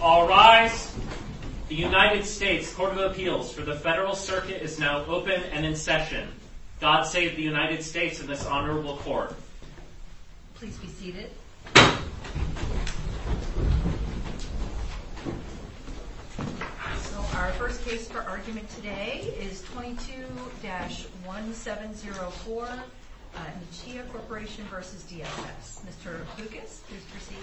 All rise. The United States Court of Appeals for the Federal Circuit is now open and in session. God save the United States and this honorable court. Please be seated. So our first case for argument today is 22-1704, Nichia Corporation v. DSS. Mr. Lucas, please proceed.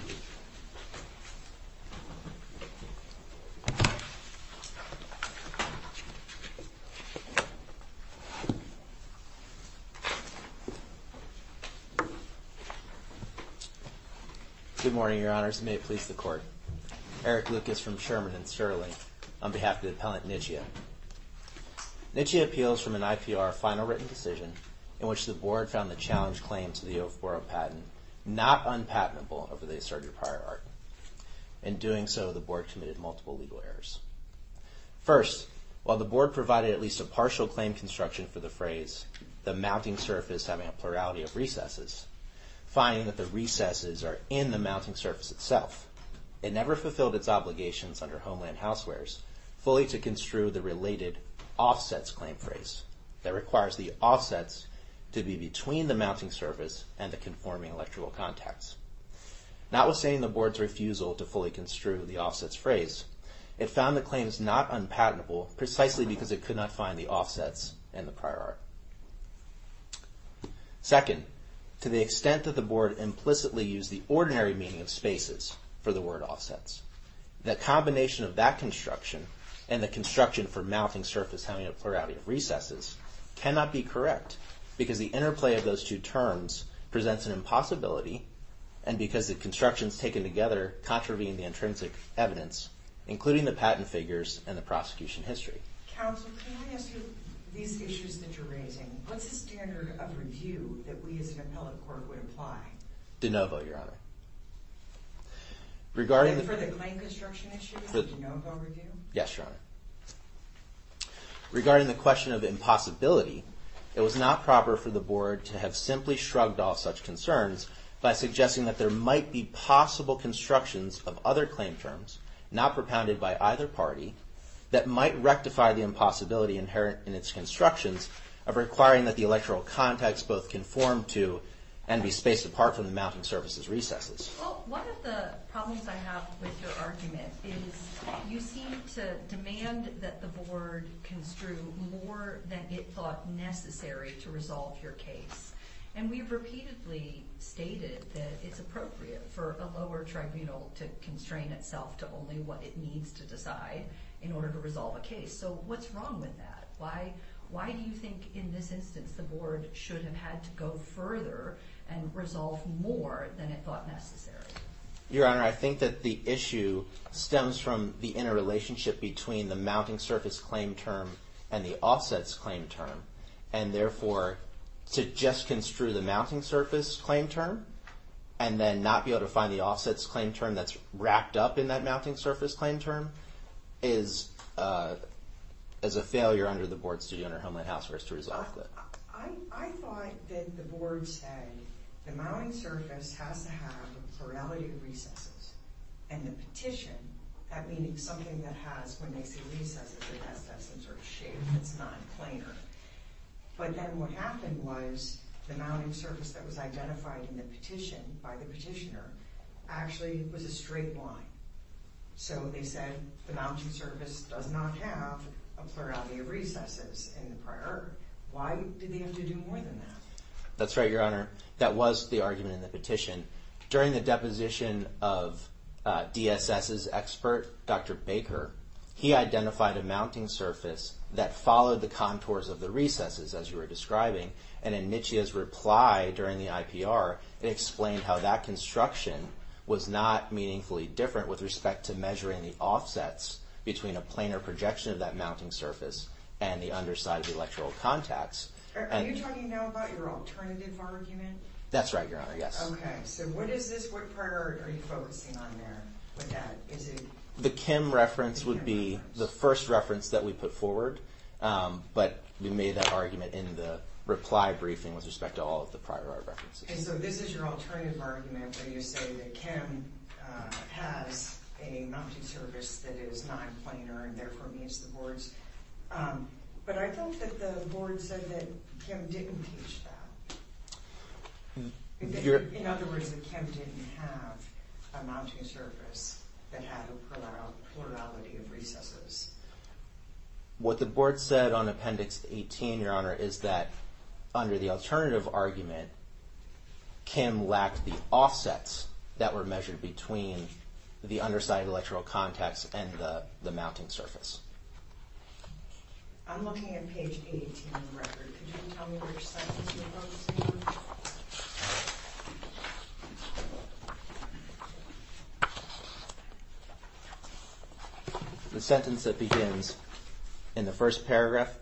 Good morning, Your Honors, and may it please the Court. Eric Lucas from Sherman & Shirley on behalf of the appellant Nichia. Nichia appeals from an IPR final written decision in which the board found the challenge claim to the OFBORO patent not unpatentable over the asserted prior argument. In doing so, the board committed multiple legal errors. First, while the board provided at least a partial claim construction for the phrase the mounting surface having a plurality of recesses, finding that the recesses are in the mounting surface itself, it never fulfilled its obligations under Homeland Housewares fully to construe the related offsets claim phrase that requires the offsets to be between the mounting surface and the conforming electrical contacts. Notwithstanding the board's refusal to fully construe the offsets phrase, it found the claims not unpatentable precisely because it could not find the offsets in the prior art. Second, to the extent that the board implicitly used the ordinary meaning of spaces for the word offsets, the combination of that construction and the construction for mounting surface having a plurality of recesses cannot be correct because the interplay of those two terms presents an impossibility and because the constructions taken together contravene the intrinsic evidence, including the patent figures and the prosecution history. Counsel, can I ask you, these issues that you're raising, what's the standard of review that we as an appellate court would apply? De novo, Your Honor. For the claim construction issue, de novo review? Yes, Your Honor. Regarding the question of impossibility, it was not proper for the board to have simply shrugged off such concerns by suggesting that there might be possible constructions of other claim terms, not propounded by either party, that might rectify the impossibility inherent in its constructions of requiring that the electrical contacts both conform to and be spaced apart from the mounting surfaces recesses. Well, one of the problems I have with your argument is you seem to demand that the board construe more than it thought necessary to resolve your case. And we've repeatedly stated that it's appropriate for a lower tribunal to constrain itself to only what it needs to decide in order to resolve a case. So what's wrong with that? Why do you think in this instance the board should have had to go further and resolve more than it thought necessary? Your Honor, I think that the issue stems from the interrelationship between the mounting surface claim term and the offsets claim term. And therefore, to just construe the mounting surface claim term and then not be able to find the offsets claim term that's wrapped up in that mounting surface claim term is a failure under the board's duty under Homeland Health Service to resolve that. I thought that the board said the mounting surface has to have a plurality of recesses. And the petition, that means something that has, when they say recesses, it has to have some sort of shape that's non-planar. But then what happened was the mounting surface that was identified in the petition by the petitioner actually was a straight line. So they said the mounting surface does not have a plurality of recesses in the prior. Why did they have to do more than that? That's right, Your Honor. That was the argument in the petition. During the deposition of DSS's expert, Dr. Baker, he identified a mounting surface that followed the contours of the recesses, as you were describing. And in Michia's reply during the IPR, it explained how that construction was not meaningfully different with respect to measuring the offsets between a planar projection of that mounting surface and the underside of the electrical contacts. Are you talking now about your alternative argument? That's right, Your Honor, yes. Okay, so what is this, what priority are you focusing on there with that? The Kim reference would be the first reference that we put forward. But we made that argument in the reply briefing with respect to all of the prior references. Okay, so this is your alternative argument, where you say that Kim has a mounting surface that is nonplanar and therefore meets the board's. But I thought that the board said that Kim didn't teach that. In other words, that Kim didn't have a mounting surface that had a plurality of recesses. What the board said on Appendix 18, Your Honor, is that under the alternative argument, Kim lacked the offsets that were measured between the underside of the electrical contacts and the mounting surface. I'm looking at page 18 on the record. Could you tell me which sentence you're focusing on? Okay. The sentence that begins in the first paragraph,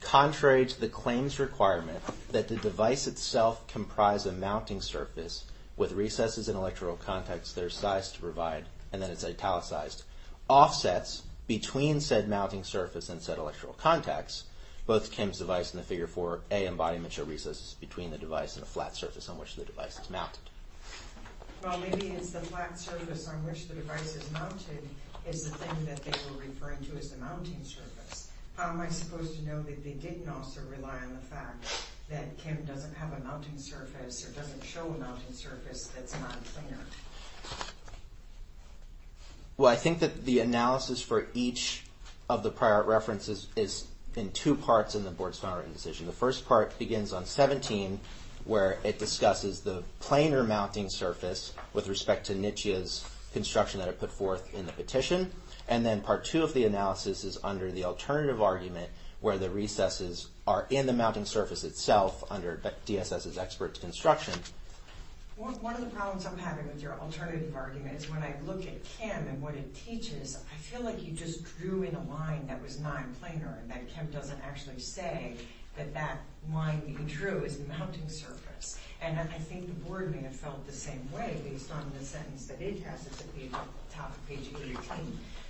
contrary to the claim's requirement that the device itself comprise a mounting surface with recesses and electrical contacts that are sized to provide, and then it's italicized, offsets between said mounting surface and said electrical contacts, both Kim's device and the Figure 4a embodiment show recesses between the device and the flat surface on which the device is mounted. Well, maybe it's the flat surface on which the device is mounted is the thing that they were referring to as the mounting surface. How am I supposed to know that they didn't also rely on the fact that Kim doesn't have a mounting surface or doesn't show a mounting surface that's nonplanar? Well, I think that the analysis for each of the prior references is in two parts in the Board's Found Written Decision. The first part begins on 17 where it discusses the planar mounting surface with respect to NYCHA's construction that it put forth in the petition, and then Part 2 of the analysis is under the alternative argument where the recesses are in the mounting surface itself under DSS's expert construction. One of the problems I'm having with your alternative argument is when I look at Kim and what it teaches, I feel like you just drew in a line that was nonplanar and that Kim doesn't actually say that that line being true is the mounting surface. And I think the Board may have felt the same way based on the sentence that it has at the top of page 18.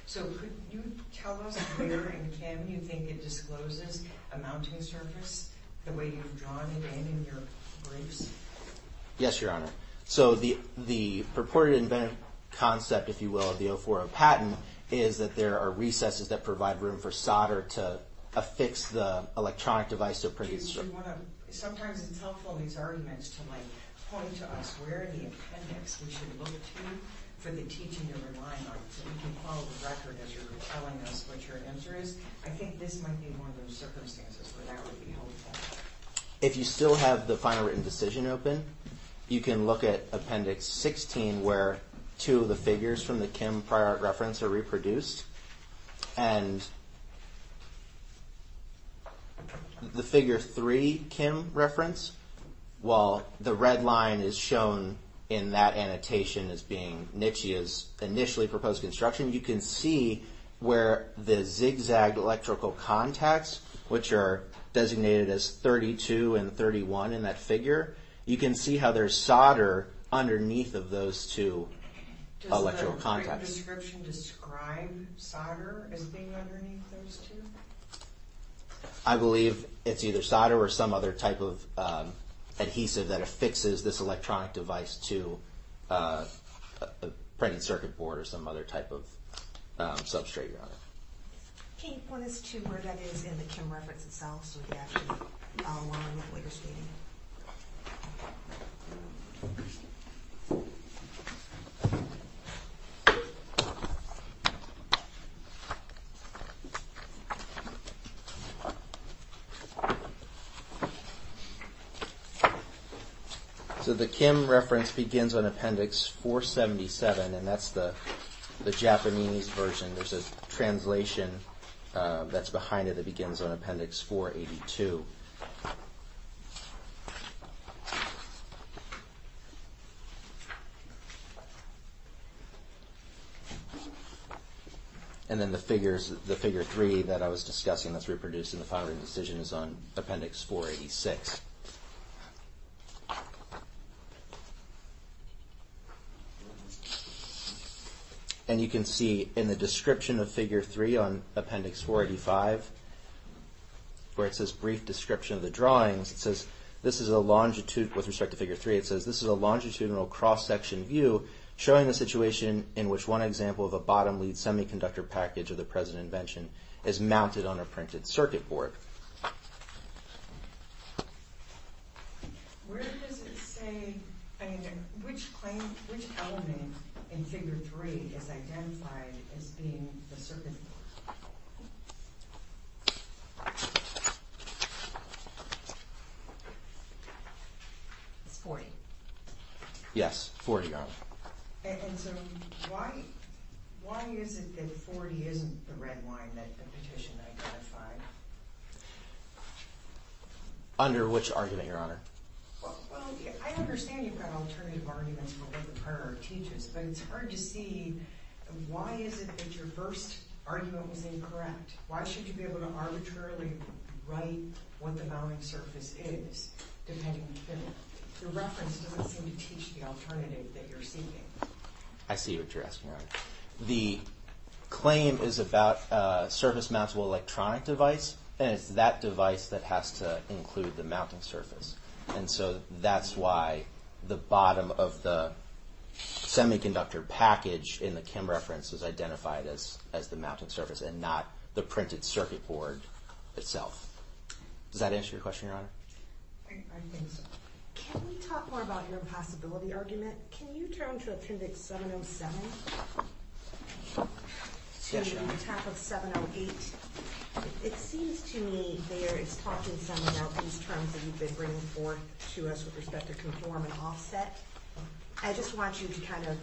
So could you tell us where in Kim you think it discloses a mounting surface the way you've drawn it in in your briefs? Yes, Your Honor. So the purported inventive concept, if you will, of the 040 patent is that there are recesses that provide room for solder to affix the electronic device to a printed strip. Sometimes it's helpful in these arguments to point to us where in the appendix we should look to for the teaching of a line art so we can follow the record as you're telling us what your answer is. I think this might be one of those circumstances where that would be helpful. If you still have the final written decision open, you can look at Appendix 16 where two of the figures from the Kim prior art reference are reproduced. And the Figure 3 Kim reference, while the red line is shown in that annotation as being Nitsche's initially proposed construction, you can see where the zigzag electrical contacts, which are designated as 32 and 31 in that figure, you can see how there's solder underneath of those two electrical contacts. Does the description describe solder as being underneath those two? I believe it's either solder or some other type of adhesive that affixes this electronic device to a printed circuit board or some other type of substrate. Can you point us to where that is in the Kim reference itself so we can actually follow along with what you're stating? Okay. So the Kim reference begins on Appendix 477, and that's the Japanese version. There's a translation that's behind it that begins on Appendix 482. And then the Figure 3 that I was discussing that's reproduced in the final written decision is on Appendix 486. And you can see in the description of Figure 3 on Appendix 485, where it says brief description of the drawings, it says this is a longitudinal, with respect to Figure 3, it says this is a longitudinal cross-section view showing the situation in which one example of a bottom-lead semiconductor package of the present invention is mounted on a printed circuit board. Where does it say, I mean, which claim, which element in Figure 3 is identified as being the circuit board? It's 40. Yes, 40 on it. And so why is it that 40 isn't the red line that the petition identified? Under which argument, Your Honor? Well, I understand you've got alternative arguments for what the prior art teaches, but it's hard to see why is it that your first argument was incorrect? Why should you be able to arbitrarily write what the mounting surface is depending on the figure? Your reference doesn't seem to teach the alternative that you're seeking. I see what you're asking, Your Honor. The claim is about a surface-mountable electronic device, and it's that device that has to include the mounting surface. And so that's why the bottom of the semiconductor package in the Kim reference is identified as the mounting surface and not the printed circuit board itself. Does that answer your question, Your Honor? I think so. Can we talk more about your possibility argument? Can you turn to Appendix 707 to the attack of 708? It seems to me there is talk in some of these terms that you've been bringing forth to us with respect to conform and offset. I just want you to kind of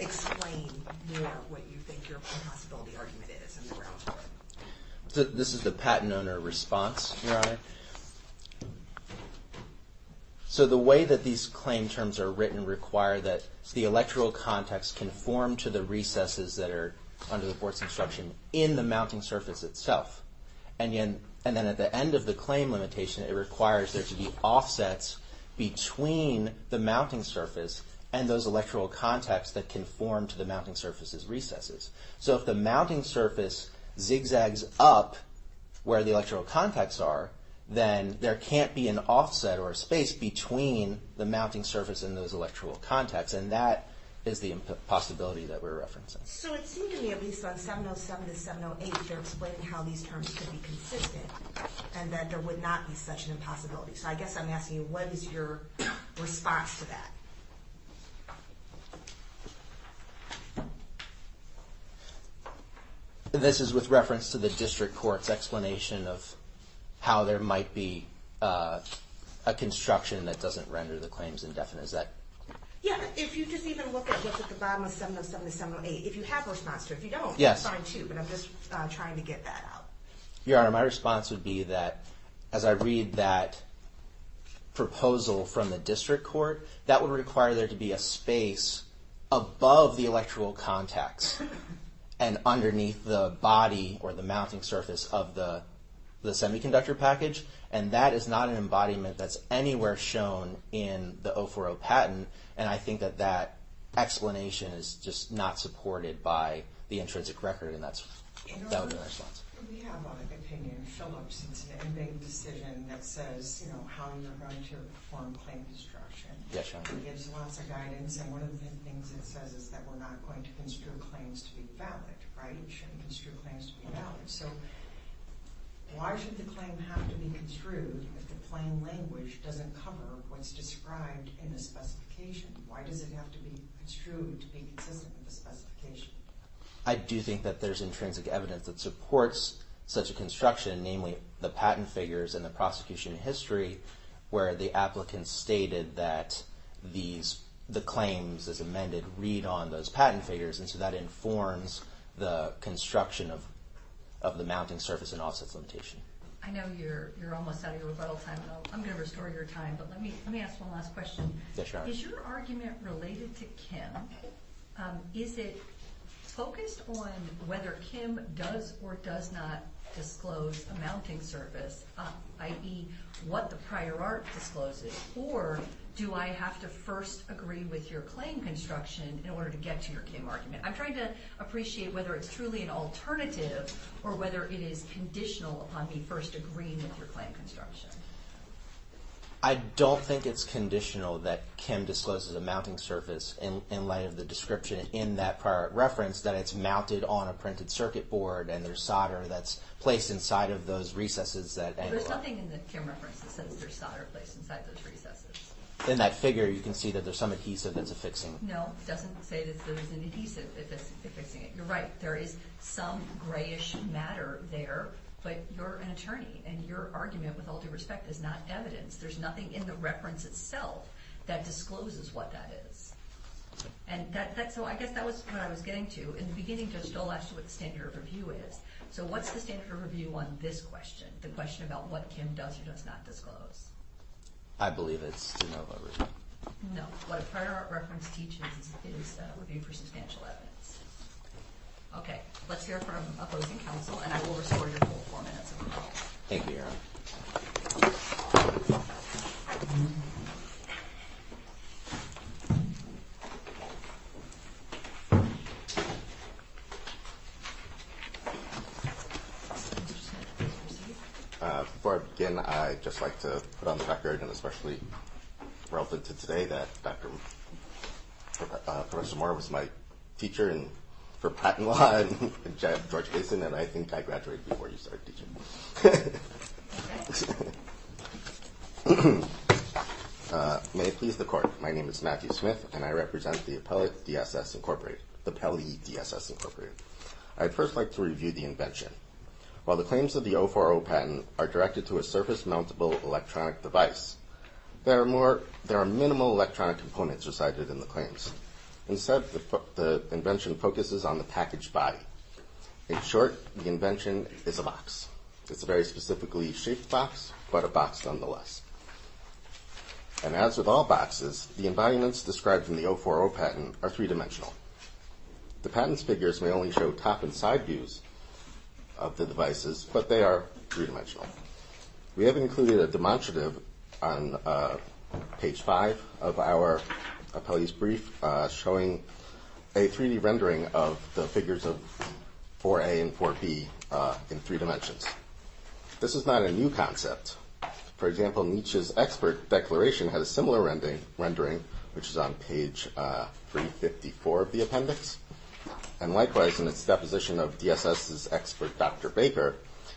explain more what you think your possibility argument is in the grounds for it. This is the patent owner response, Your Honor. So the way that these claim terms are written require that the electrical contacts conform to the recesses that are under the Board's instruction in the mounting surface itself. And then at the end of the claim limitation, it requires there to be offsets between the mounting surface and those electrical contacts that conform to the mounting surface's recesses. So if the mounting surface zigzags up where the electrical contacts are, then there can't be an offset or a space between the mounting surface and those electrical contacts. And that is the possibility that we're referencing. So it seems to me at least on 707 to 708 they're explaining how these terms could be consistent and that there would not be such an impossibility. So I guess I'm asking you, what is your response to that? This is with reference to the district court's explanation of how there might be a construction that doesn't render the claims indefinite. Is that... Yeah, if you just even look at what's at the bottom of 707 to 708, if you have a response to it. If you don't, it's fine too, but I'm just trying to get that out. Your Honor, my response would be that as I read that proposal from the district court, that would require there to be a space above the electrical contacts and underneath the body or the mounting surface of the semiconductor package. And that is not an embodiment that's anywhere shown in the 040 patent. And I think that that explanation is just not supported by the intrinsic record. And that would be my response. We have an opinion, Philips, it's an inmate decision that says how you're going to perform claim construction. It gives lots of guidance, and one of the things it says is that we're not going to construe claims to be valid. It shouldn't construe claims to be valid. So why should the claim have to be construed if the plain language doesn't cover what's described in the specification? Why does it have to be construed to be consistent with the specification? I do think that there's intrinsic evidence that supports such a construction, namely the patent figures and the prosecution history where the applicant stated that the claims as amended read on those patent figures, and so that informs the construction of the mounting surface and offsets limitation. I know you're almost out of your rebuttal time. I'm going to restore your time, but let me ask one last question. Is your argument related to Kim? Is it focused on whether Kim does or does not disclose a mounting surface, i.e. what the prior art discloses, or do I have to first agree with your claim construction in order to get to your Kim argument? I'm trying to appreciate whether it's truly an alternative or whether it is conditional upon me first agreeing with your claim construction. I don't think it's conditional that Kim discloses a mounting surface in light of the description in that prior art reference that it's mounted on a printed circuit board and there's solder that's placed inside of those recesses. There's nothing in the Kim reference that says there's solder placed inside those recesses. In that figure, you can see that there's some adhesive that's affixing it. No, it doesn't say that there's an adhesive that's affixing it. You're right, there is some grayish matter there, but you're an attorney, and your argument with all due respect is not evidence. There's nothing in the reference itself that discloses what that is. So I guess that was what I was getting to. In the beginning, Judge Dole asked you what the standard of review is. So what's the standard of review on this question, the question about what Kim does or does not disclose? I believe it's de novo review. No, what a prior art reference teaches is review for substantial evidence. Okay, let's hear from opposing counsel, Thank you, Your Honor. Before I begin, I'd just like to put on the record, and especially relevant to today, that Professor Moore was my teacher for patent law at George Mason, and I think I graduated before you started teaching. May it please the Court, my name is Matthew Smith, and I represent the Appellate DSS Incorporated, the Pele DSS Incorporated. I'd first like to review the invention. While the claims of the 040 patent are directed to a surface-mountable electronic device, there are minimal electronic components recited in the claims. Instead, the invention focuses on the packaged body. In short, the invention is a box. It's a very specifically shaped box, but a box nonetheless. And as with all boxes, the environments described in the 040 patent are three-dimensional. The patent's figures may only show top and side views of the devices, but they are three-dimensional. We have included a demonstrative on page five of our appellate's brief, showing a 3D rendering of the figures of 4A and 4B in three dimensions. This is not a new concept. For example, Nietzsche's expert declaration has a similar rendering, which is on page 354 of the appendix. And likewise, in its deposition of DSS's expert Dr. Baker,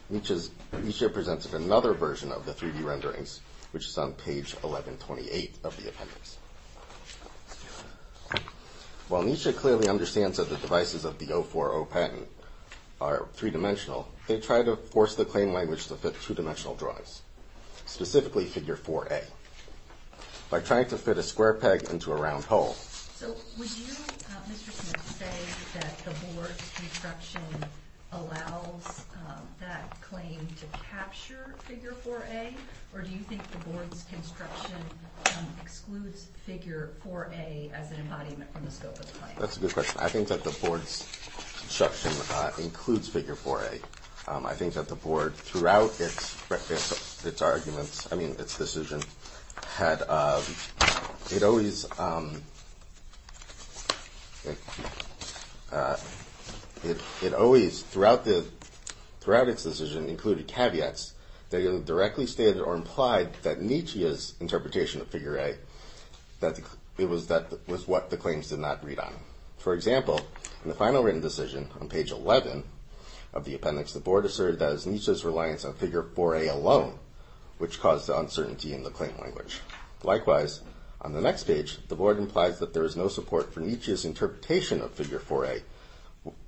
Nietzsche presents another version of the 3D renderings, which is on page 1128 of the appendix. While Nietzsche clearly understands that the devices of the 040 patent are three-dimensional, they try to force the claim language to fit two-dimensional drawings, specifically figure 4A, by trying to fit a square peg into a round hole. So would you, Mr. Smith, say that the board's construction allows that claim to capture figure 4A, or do you think the board's construction excludes figure 4A as an embodiment from the scope of the claim? That's a good question. I think that the board's construction includes figure 4A. I think that the board, throughout its arguments, I mean, its decision, had, it always, it always, throughout its decision, included caveats that either directly stated or implied that Nietzsche's interpretation of figure A, that it was what the claims did not read on. For example, in the final written decision, on page 11 of the appendix, the board asserted that it was Nietzsche's reliance on figure 4A alone, which caused the uncertainty in the claim language. Likewise, on the next page, the board implies that there is no support for Nietzsche's interpretation of figure 4A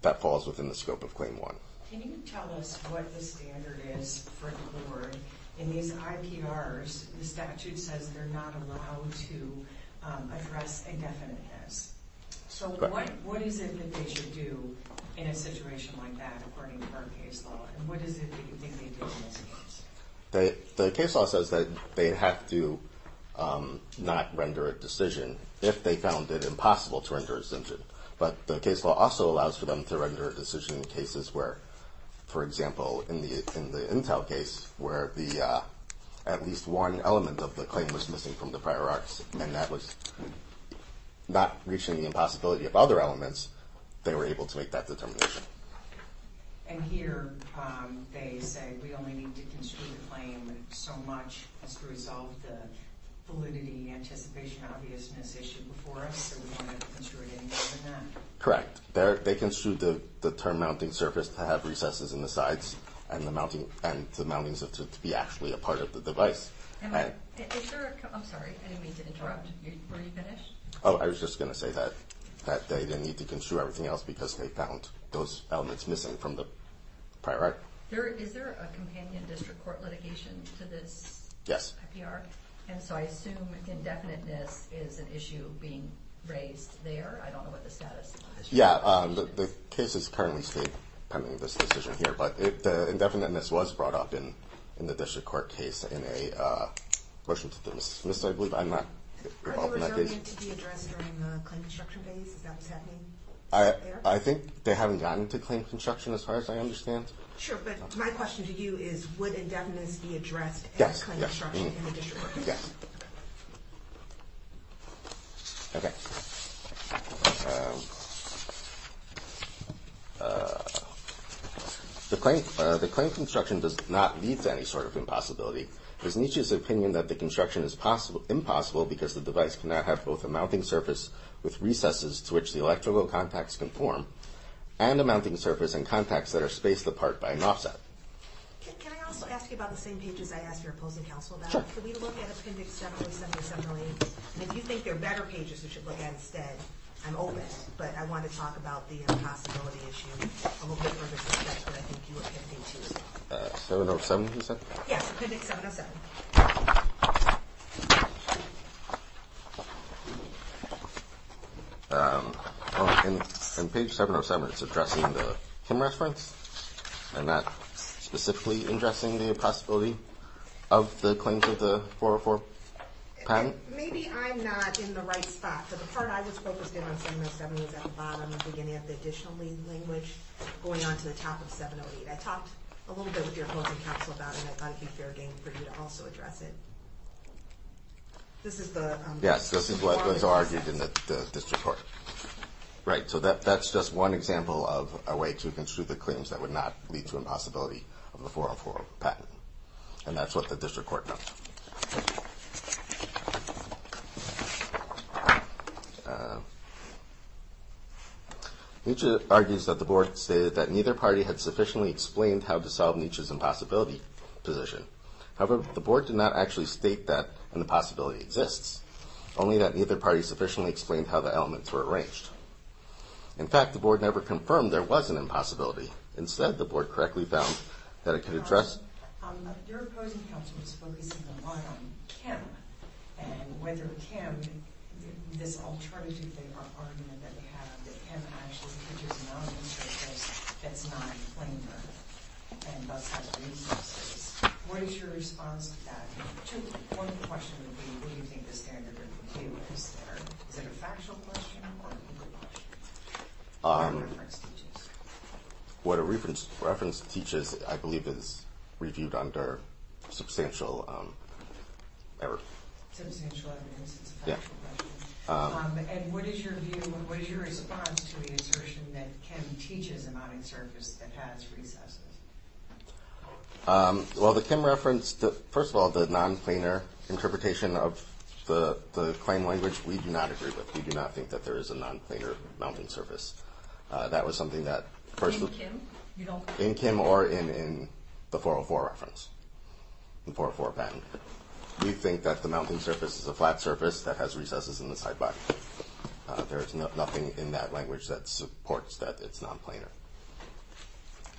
that falls within the scope of claim 1. Can you tell us what the standard is for the board in these IPRs? The statute says they're not allowed to address indefiniteness. So what is it that they should do in a situation like that, according to our case law? And what is it that you think they did in this case? The case law says that they have to not render a decision if they found it impossible to render a decision. But the case law also allows for them to render a decision in cases where, for example, in the Intel case where at least one element of the claim was missing from the prior arcs and that was not reaching the impossibility of other elements, they were able to make that determination. And here they say we only need to construe the claim so much as to resolve the validity, anticipation, obviousness issue before us. So we want to construe it any better than that? Correct. They construed the term mounting surface to have recesses in the sides and the mountings to be actually a part of the device. I'm sorry, I didn't mean to interrupt. Were you finished? Oh, I was just going to say that they didn't need to construe everything else because they found those elements missing from the prior arc. Is there a companion district court litigation to this IPR? Yes. And so I assume indefiniteness is an issue being raised there? Yeah, the case is currently pending this decision here, but the indefiniteness was brought up in the district court case in a motion to dismiss, I believe. I'm not involved in that case. Were they reserving it to be addressed during the claim construction phase? Is that what's happening there? I think they haven't gotten to claim construction as far as I understand. Sure, but my question to you is would indefiniteness be addressed in claim construction in the district court case? Yes. Okay. The claim construction does not lead to any sort of impossibility. It is Nietzsche's opinion that the construction is impossible because the device cannot have both a mounting surface with recesses to which the electrical contacts conform and a mounting surface and contacts that are spaced apart by an offset. Can I also ask you about the same pages I asked your opposing counsel about? Sure. Can we look at Appendix 717 and 718? And if you think there are better pages we should look at instead, I'm open, but I want to talk about the impossibility issue a little bit further to the text that I think you were pivoting to. 707, you said? Yes, Appendix 707. In page 707, it's addressing the Kim reference. I'm not specifically addressing the impossibility of the claims of the 404 patent. Maybe I'm not in the right spot. The part I was focused in on 707 was at the bottom, the beginning of the additional language going on to the top of 708. I talked a little bit with your opposing counsel about it, and I thought it would be fair game for you to also address it. This is the 404 patent. Yes, this is what's argued in the district court. Right, so that's just one example of a way to construe the claims that would not lead to impossibility of the 404 patent. And that's what the district court knows. Okay. Nietzsche argues that the board stated that neither party had sufficiently explained how to solve Nietzsche's impossibility position. However, the board did not actually state that an impossibility exists, only that neither party sufficiently explained how the elements were arranged. In fact, the board never confirmed there was an impossibility. Instead, the board correctly found that it could address— And whether Kim, this alternative argument that we have, that Kim actually teaches a non-instructor that's not a claimer and thus has resources, what is your response to that? One question would be, what do you think the standard of review is there? Is it a factual question or a legal question? What a reference teaches, I believe, is reviewed under substantial error. Substantial evidence, it's a factual question. And what is your view and what is your response to the assertion that Kim teaches a mounting surface that has recesses? Well, the Kim reference, first of all, the non-claimer interpretation of the claim language, we do not agree with. We do not think that there is a non-claimer mounting surface. That was something that first— In Kim? In Kim or in the 404 reference, the 404 patent. We think that the mounting surface is a flat surface that has recesses in the sidebar. There is nothing in that language that supports that it's non-plainer.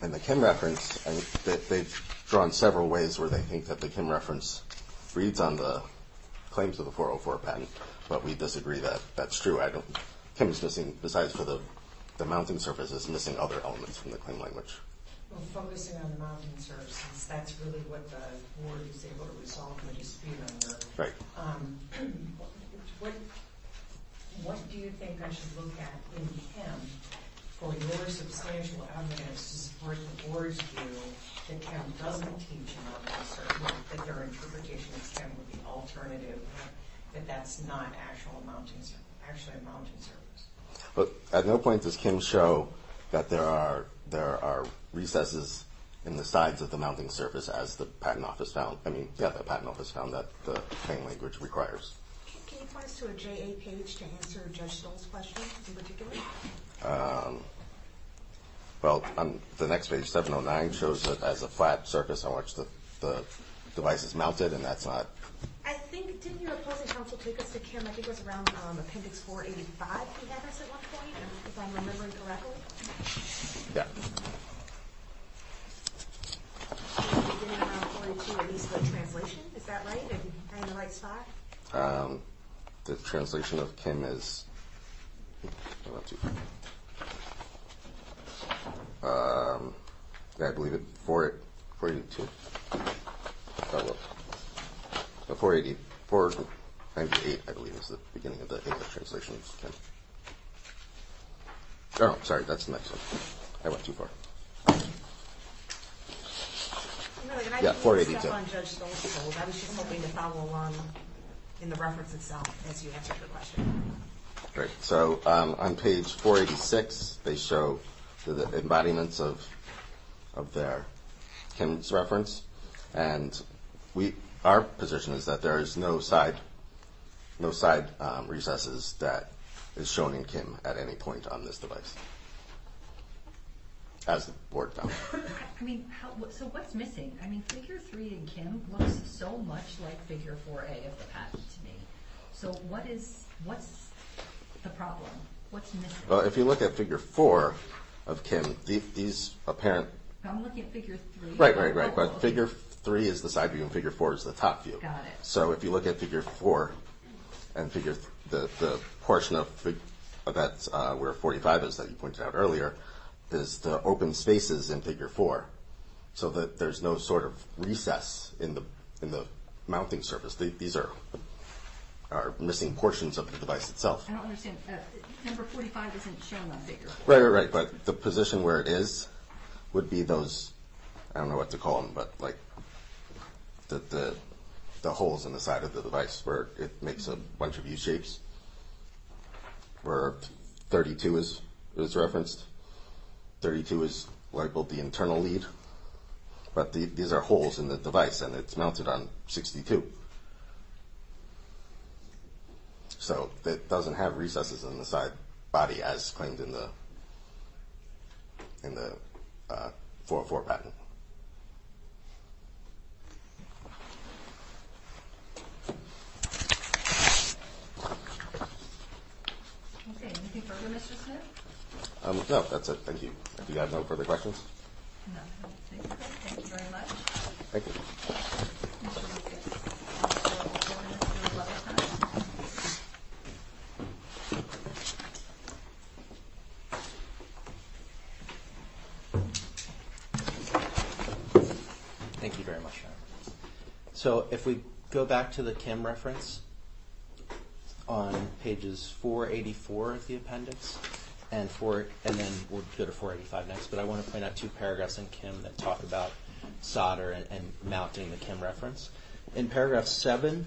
In the Kim reference, they've drawn several ways where they think that the Kim reference reads on the claims of the 404 patent, but we disagree that that's true. I don't—Kim's missing, besides for the mounting surface, is missing other elements from the claim language. Well, focusing on the mounting surface, that's really what the board is able to resolve when you speak on the board. Right. What do you think I should look at in Kim for your substantial evidence to support the board's view that Kim doesn't teach a mounting surface, that their interpretation of Kim would be alternative, that that's not actually a mounting surface? At no point does Kim show that there are recesses in the sides of the mounting surface as the patent office found that the claim language requires. Can you point us to a JA page to answer Judge Stoll's question in particular? Well, the next page, 709, shows that as a flat surface, how much the device is mounted, and that's not— I think—didn't your opposing counsel take us to Kim? I think it was around Appendix 485 he had us at one point, if I'm remembering correctly. Yeah. It was beginning around 482, at least, the translation. Is that right? Am I in the right spot? The translation of Kim is— Yeah, I believe it—482. Oh, look. 480. 498, I believe, is the beginning of the English translation of Kim. Oh, sorry, that's the next one. Yeah, 482. I didn't want to step on Judge Stoll's tools. I was just hoping to follow along in the reference itself as you answered the question. Great. So on page 486, they show the embodiments of their— and we—our position is that there is no side recesses that is shown in Kim at any point on this device, as the board found. I mean, so what's missing? I mean, Figure 3 in Kim looks so much like Figure 4a of the patent to me. So what is—what's the problem? What's missing? Well, if you look at Figure 4 of Kim, these apparent— I'm looking at Figure 3. Right, right, right. But Figure 3 is the side view and Figure 4 is the top view. Got it. So if you look at Figure 4 and Figure— the portion of that where 45 is that you pointed out earlier is the open spaces in Figure 4, so that there's no sort of recess in the mounting surface. These are missing portions of the device itself. I don't understand. Number 45 isn't shown on Figure 4. Right, right, right. But the position where it is would be those— I don't know what to call them, but like the holes in the side of the device where it makes a bunch of U-shapes, where 32 is referenced. 32 is labeled the internal lead. But these are holes in the device, and it's mounted on 62. So it doesn't have recesses in the side body as claimed in the 404 patent. Okay, anything further, Mr. Smith? No, that's it. Thank you. Do you have no further questions? No, I don't think so. Thank you very much. Thank you. Thank you. Thank you very much. So if we go back to the Kim reference on pages 484 of the appendix, and then we'll go to 485 next, but I want to point out two paragraphs in Kim that talk about solder and mounting the Kim reference. In paragraph 7,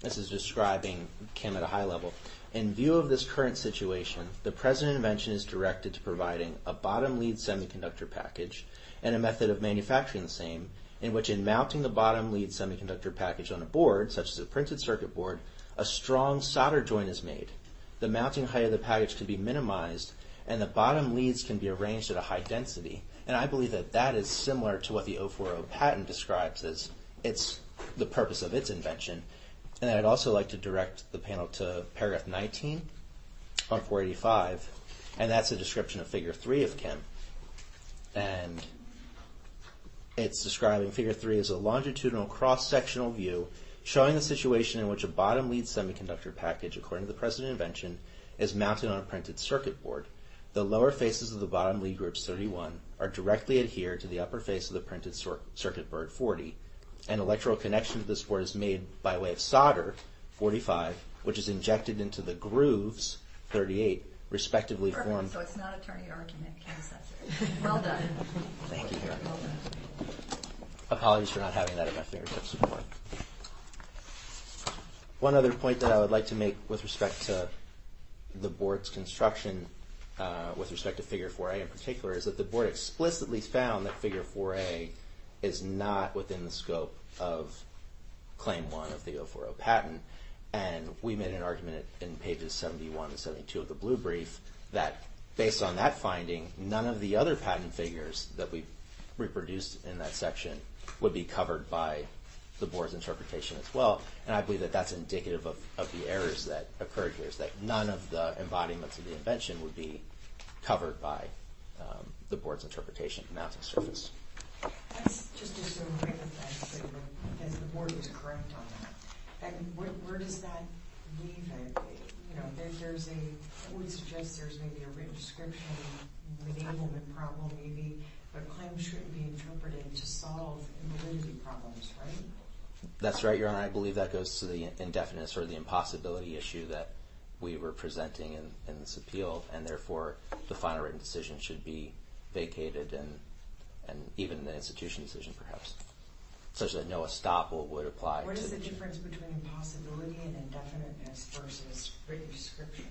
this is describing Kim at a high level. In view of this current situation, the present invention is directed to providing a bottom-lead semiconductor package and a method of manufacturing the same, in which in mounting the bottom-lead semiconductor package on a board, such as a printed circuit board, a strong solder joint is made. The mounting height of the package can be minimized, and the bottom leads can be arranged at a high density. And I believe that that is similar to what the 040 patent describes as the purpose of its invention. And I'd also like to direct the panel to paragraph 19 of 485, and that's a description of figure 3 of Kim. And it's describing figure 3 as a longitudinal cross-sectional view showing the situation in which a bottom-lead semiconductor package, according to the present invention, is mounted on a printed circuit board. The lower faces of the bottom lead group, 31, are directly adhered to the upper face of the printed circuit board, 40. An electrical connection to this board is made by way of solder, 45, which is injected into the grooves, 38, respectively formed... Perfect. So it's not attorney argument. Well done. Thank you. Apologies for not having that at my fingertips before. One other point that I would like to make with respect to the board's construction, with respect to figure 4A in particular, is that the board explicitly found that figure 4A is not within the scope of claim 1 of the 040 patent. And we made an argument in pages 71 and 72 of the Blue Brief that based on that finding, none of the other patent figures that we reproduced in that section would be covered by the board's interpretation as well. And I believe that that's indicative of the errors that occurred here, is that none of the embodiments of the invention would be covered by the board's interpretation of mounting circuits. That's just as a way of answering, because the board is correct on that. And where does that leave it? You know, there's a... But claims shouldn't be interpreted to solve invalidity problems, right? That's right, Your Honor. I believe that goes to the indefiniteness or the impossibility issue that we were presenting in this appeal. And therefore, the final written decision should be vacated and even the institution decision, perhaps. Such that no estoppel would apply. What is the difference between impossibility and indefiniteness versus written description?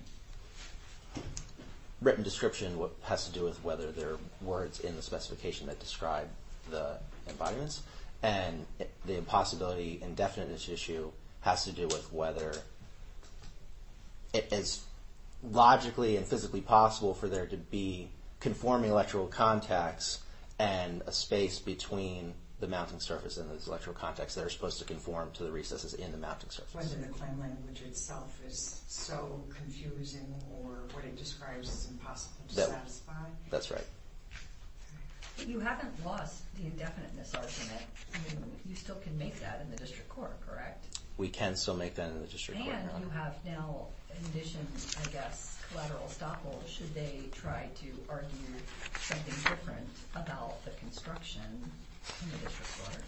Written description has to do with whether there are words in the specification that describe the embodiments. And the impossibility and indefiniteness issue has to do with whether it is logically and physically possible for there to be conforming electrical contacts and a space between the mounting surface and those electrical contacts that are supposed to conform to the recesses in the mounting surface. Whether the claim language itself is so confusing or what it describes is impossible to satisfy? That's right. But you haven't lost the indefiniteness argument. I mean, you still can make that in the district court, correct? We can still make that in the district court, Your Honor. And you have now conditioned, I guess, collateral estoppel. Should they try to argue something different about the construction in the district court?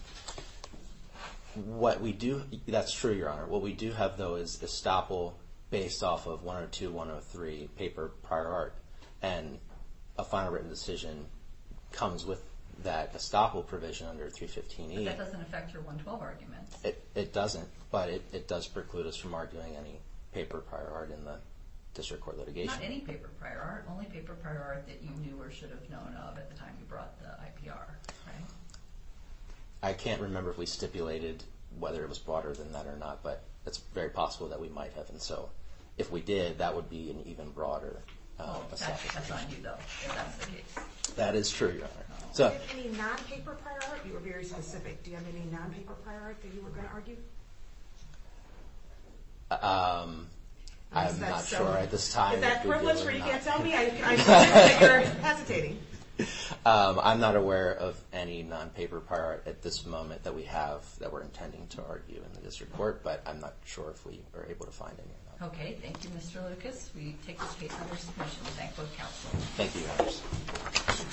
That's true, Your Honor. What we do have, though, is estoppel based off of 102, 103 paper prior art. And a final written decision comes with that estoppel provision under 315E. But that doesn't affect your 112 arguments. It doesn't. But it does preclude us from arguing any paper prior art in the district court litigation. Not any paper prior art. Only paper prior art that you knew or should have known of at the time you brought the IPR, right? I can't remember if we stipulated whether it was broader than that or not. But it's very possible that we might have. And so if we did, that would be an even broader estoppel provision. That's on you, though, if that's the case. That is true, Your Honor. Do you have any non-paper prior art? You were very specific. Do you have any non-paper prior art that you were going to argue? I'm not sure at this time. Is that a privilege where you can't tell me? I assume that you're hesitating. I'm not aware of any non-paper prior art at this moment that we have that we're intending to argue in the district court. But I'm not sure if we were able to find any. Okay. Thank you, Mr. Lucas. We take this case under submission. Thank you, counsel. Thank you, Your Honor.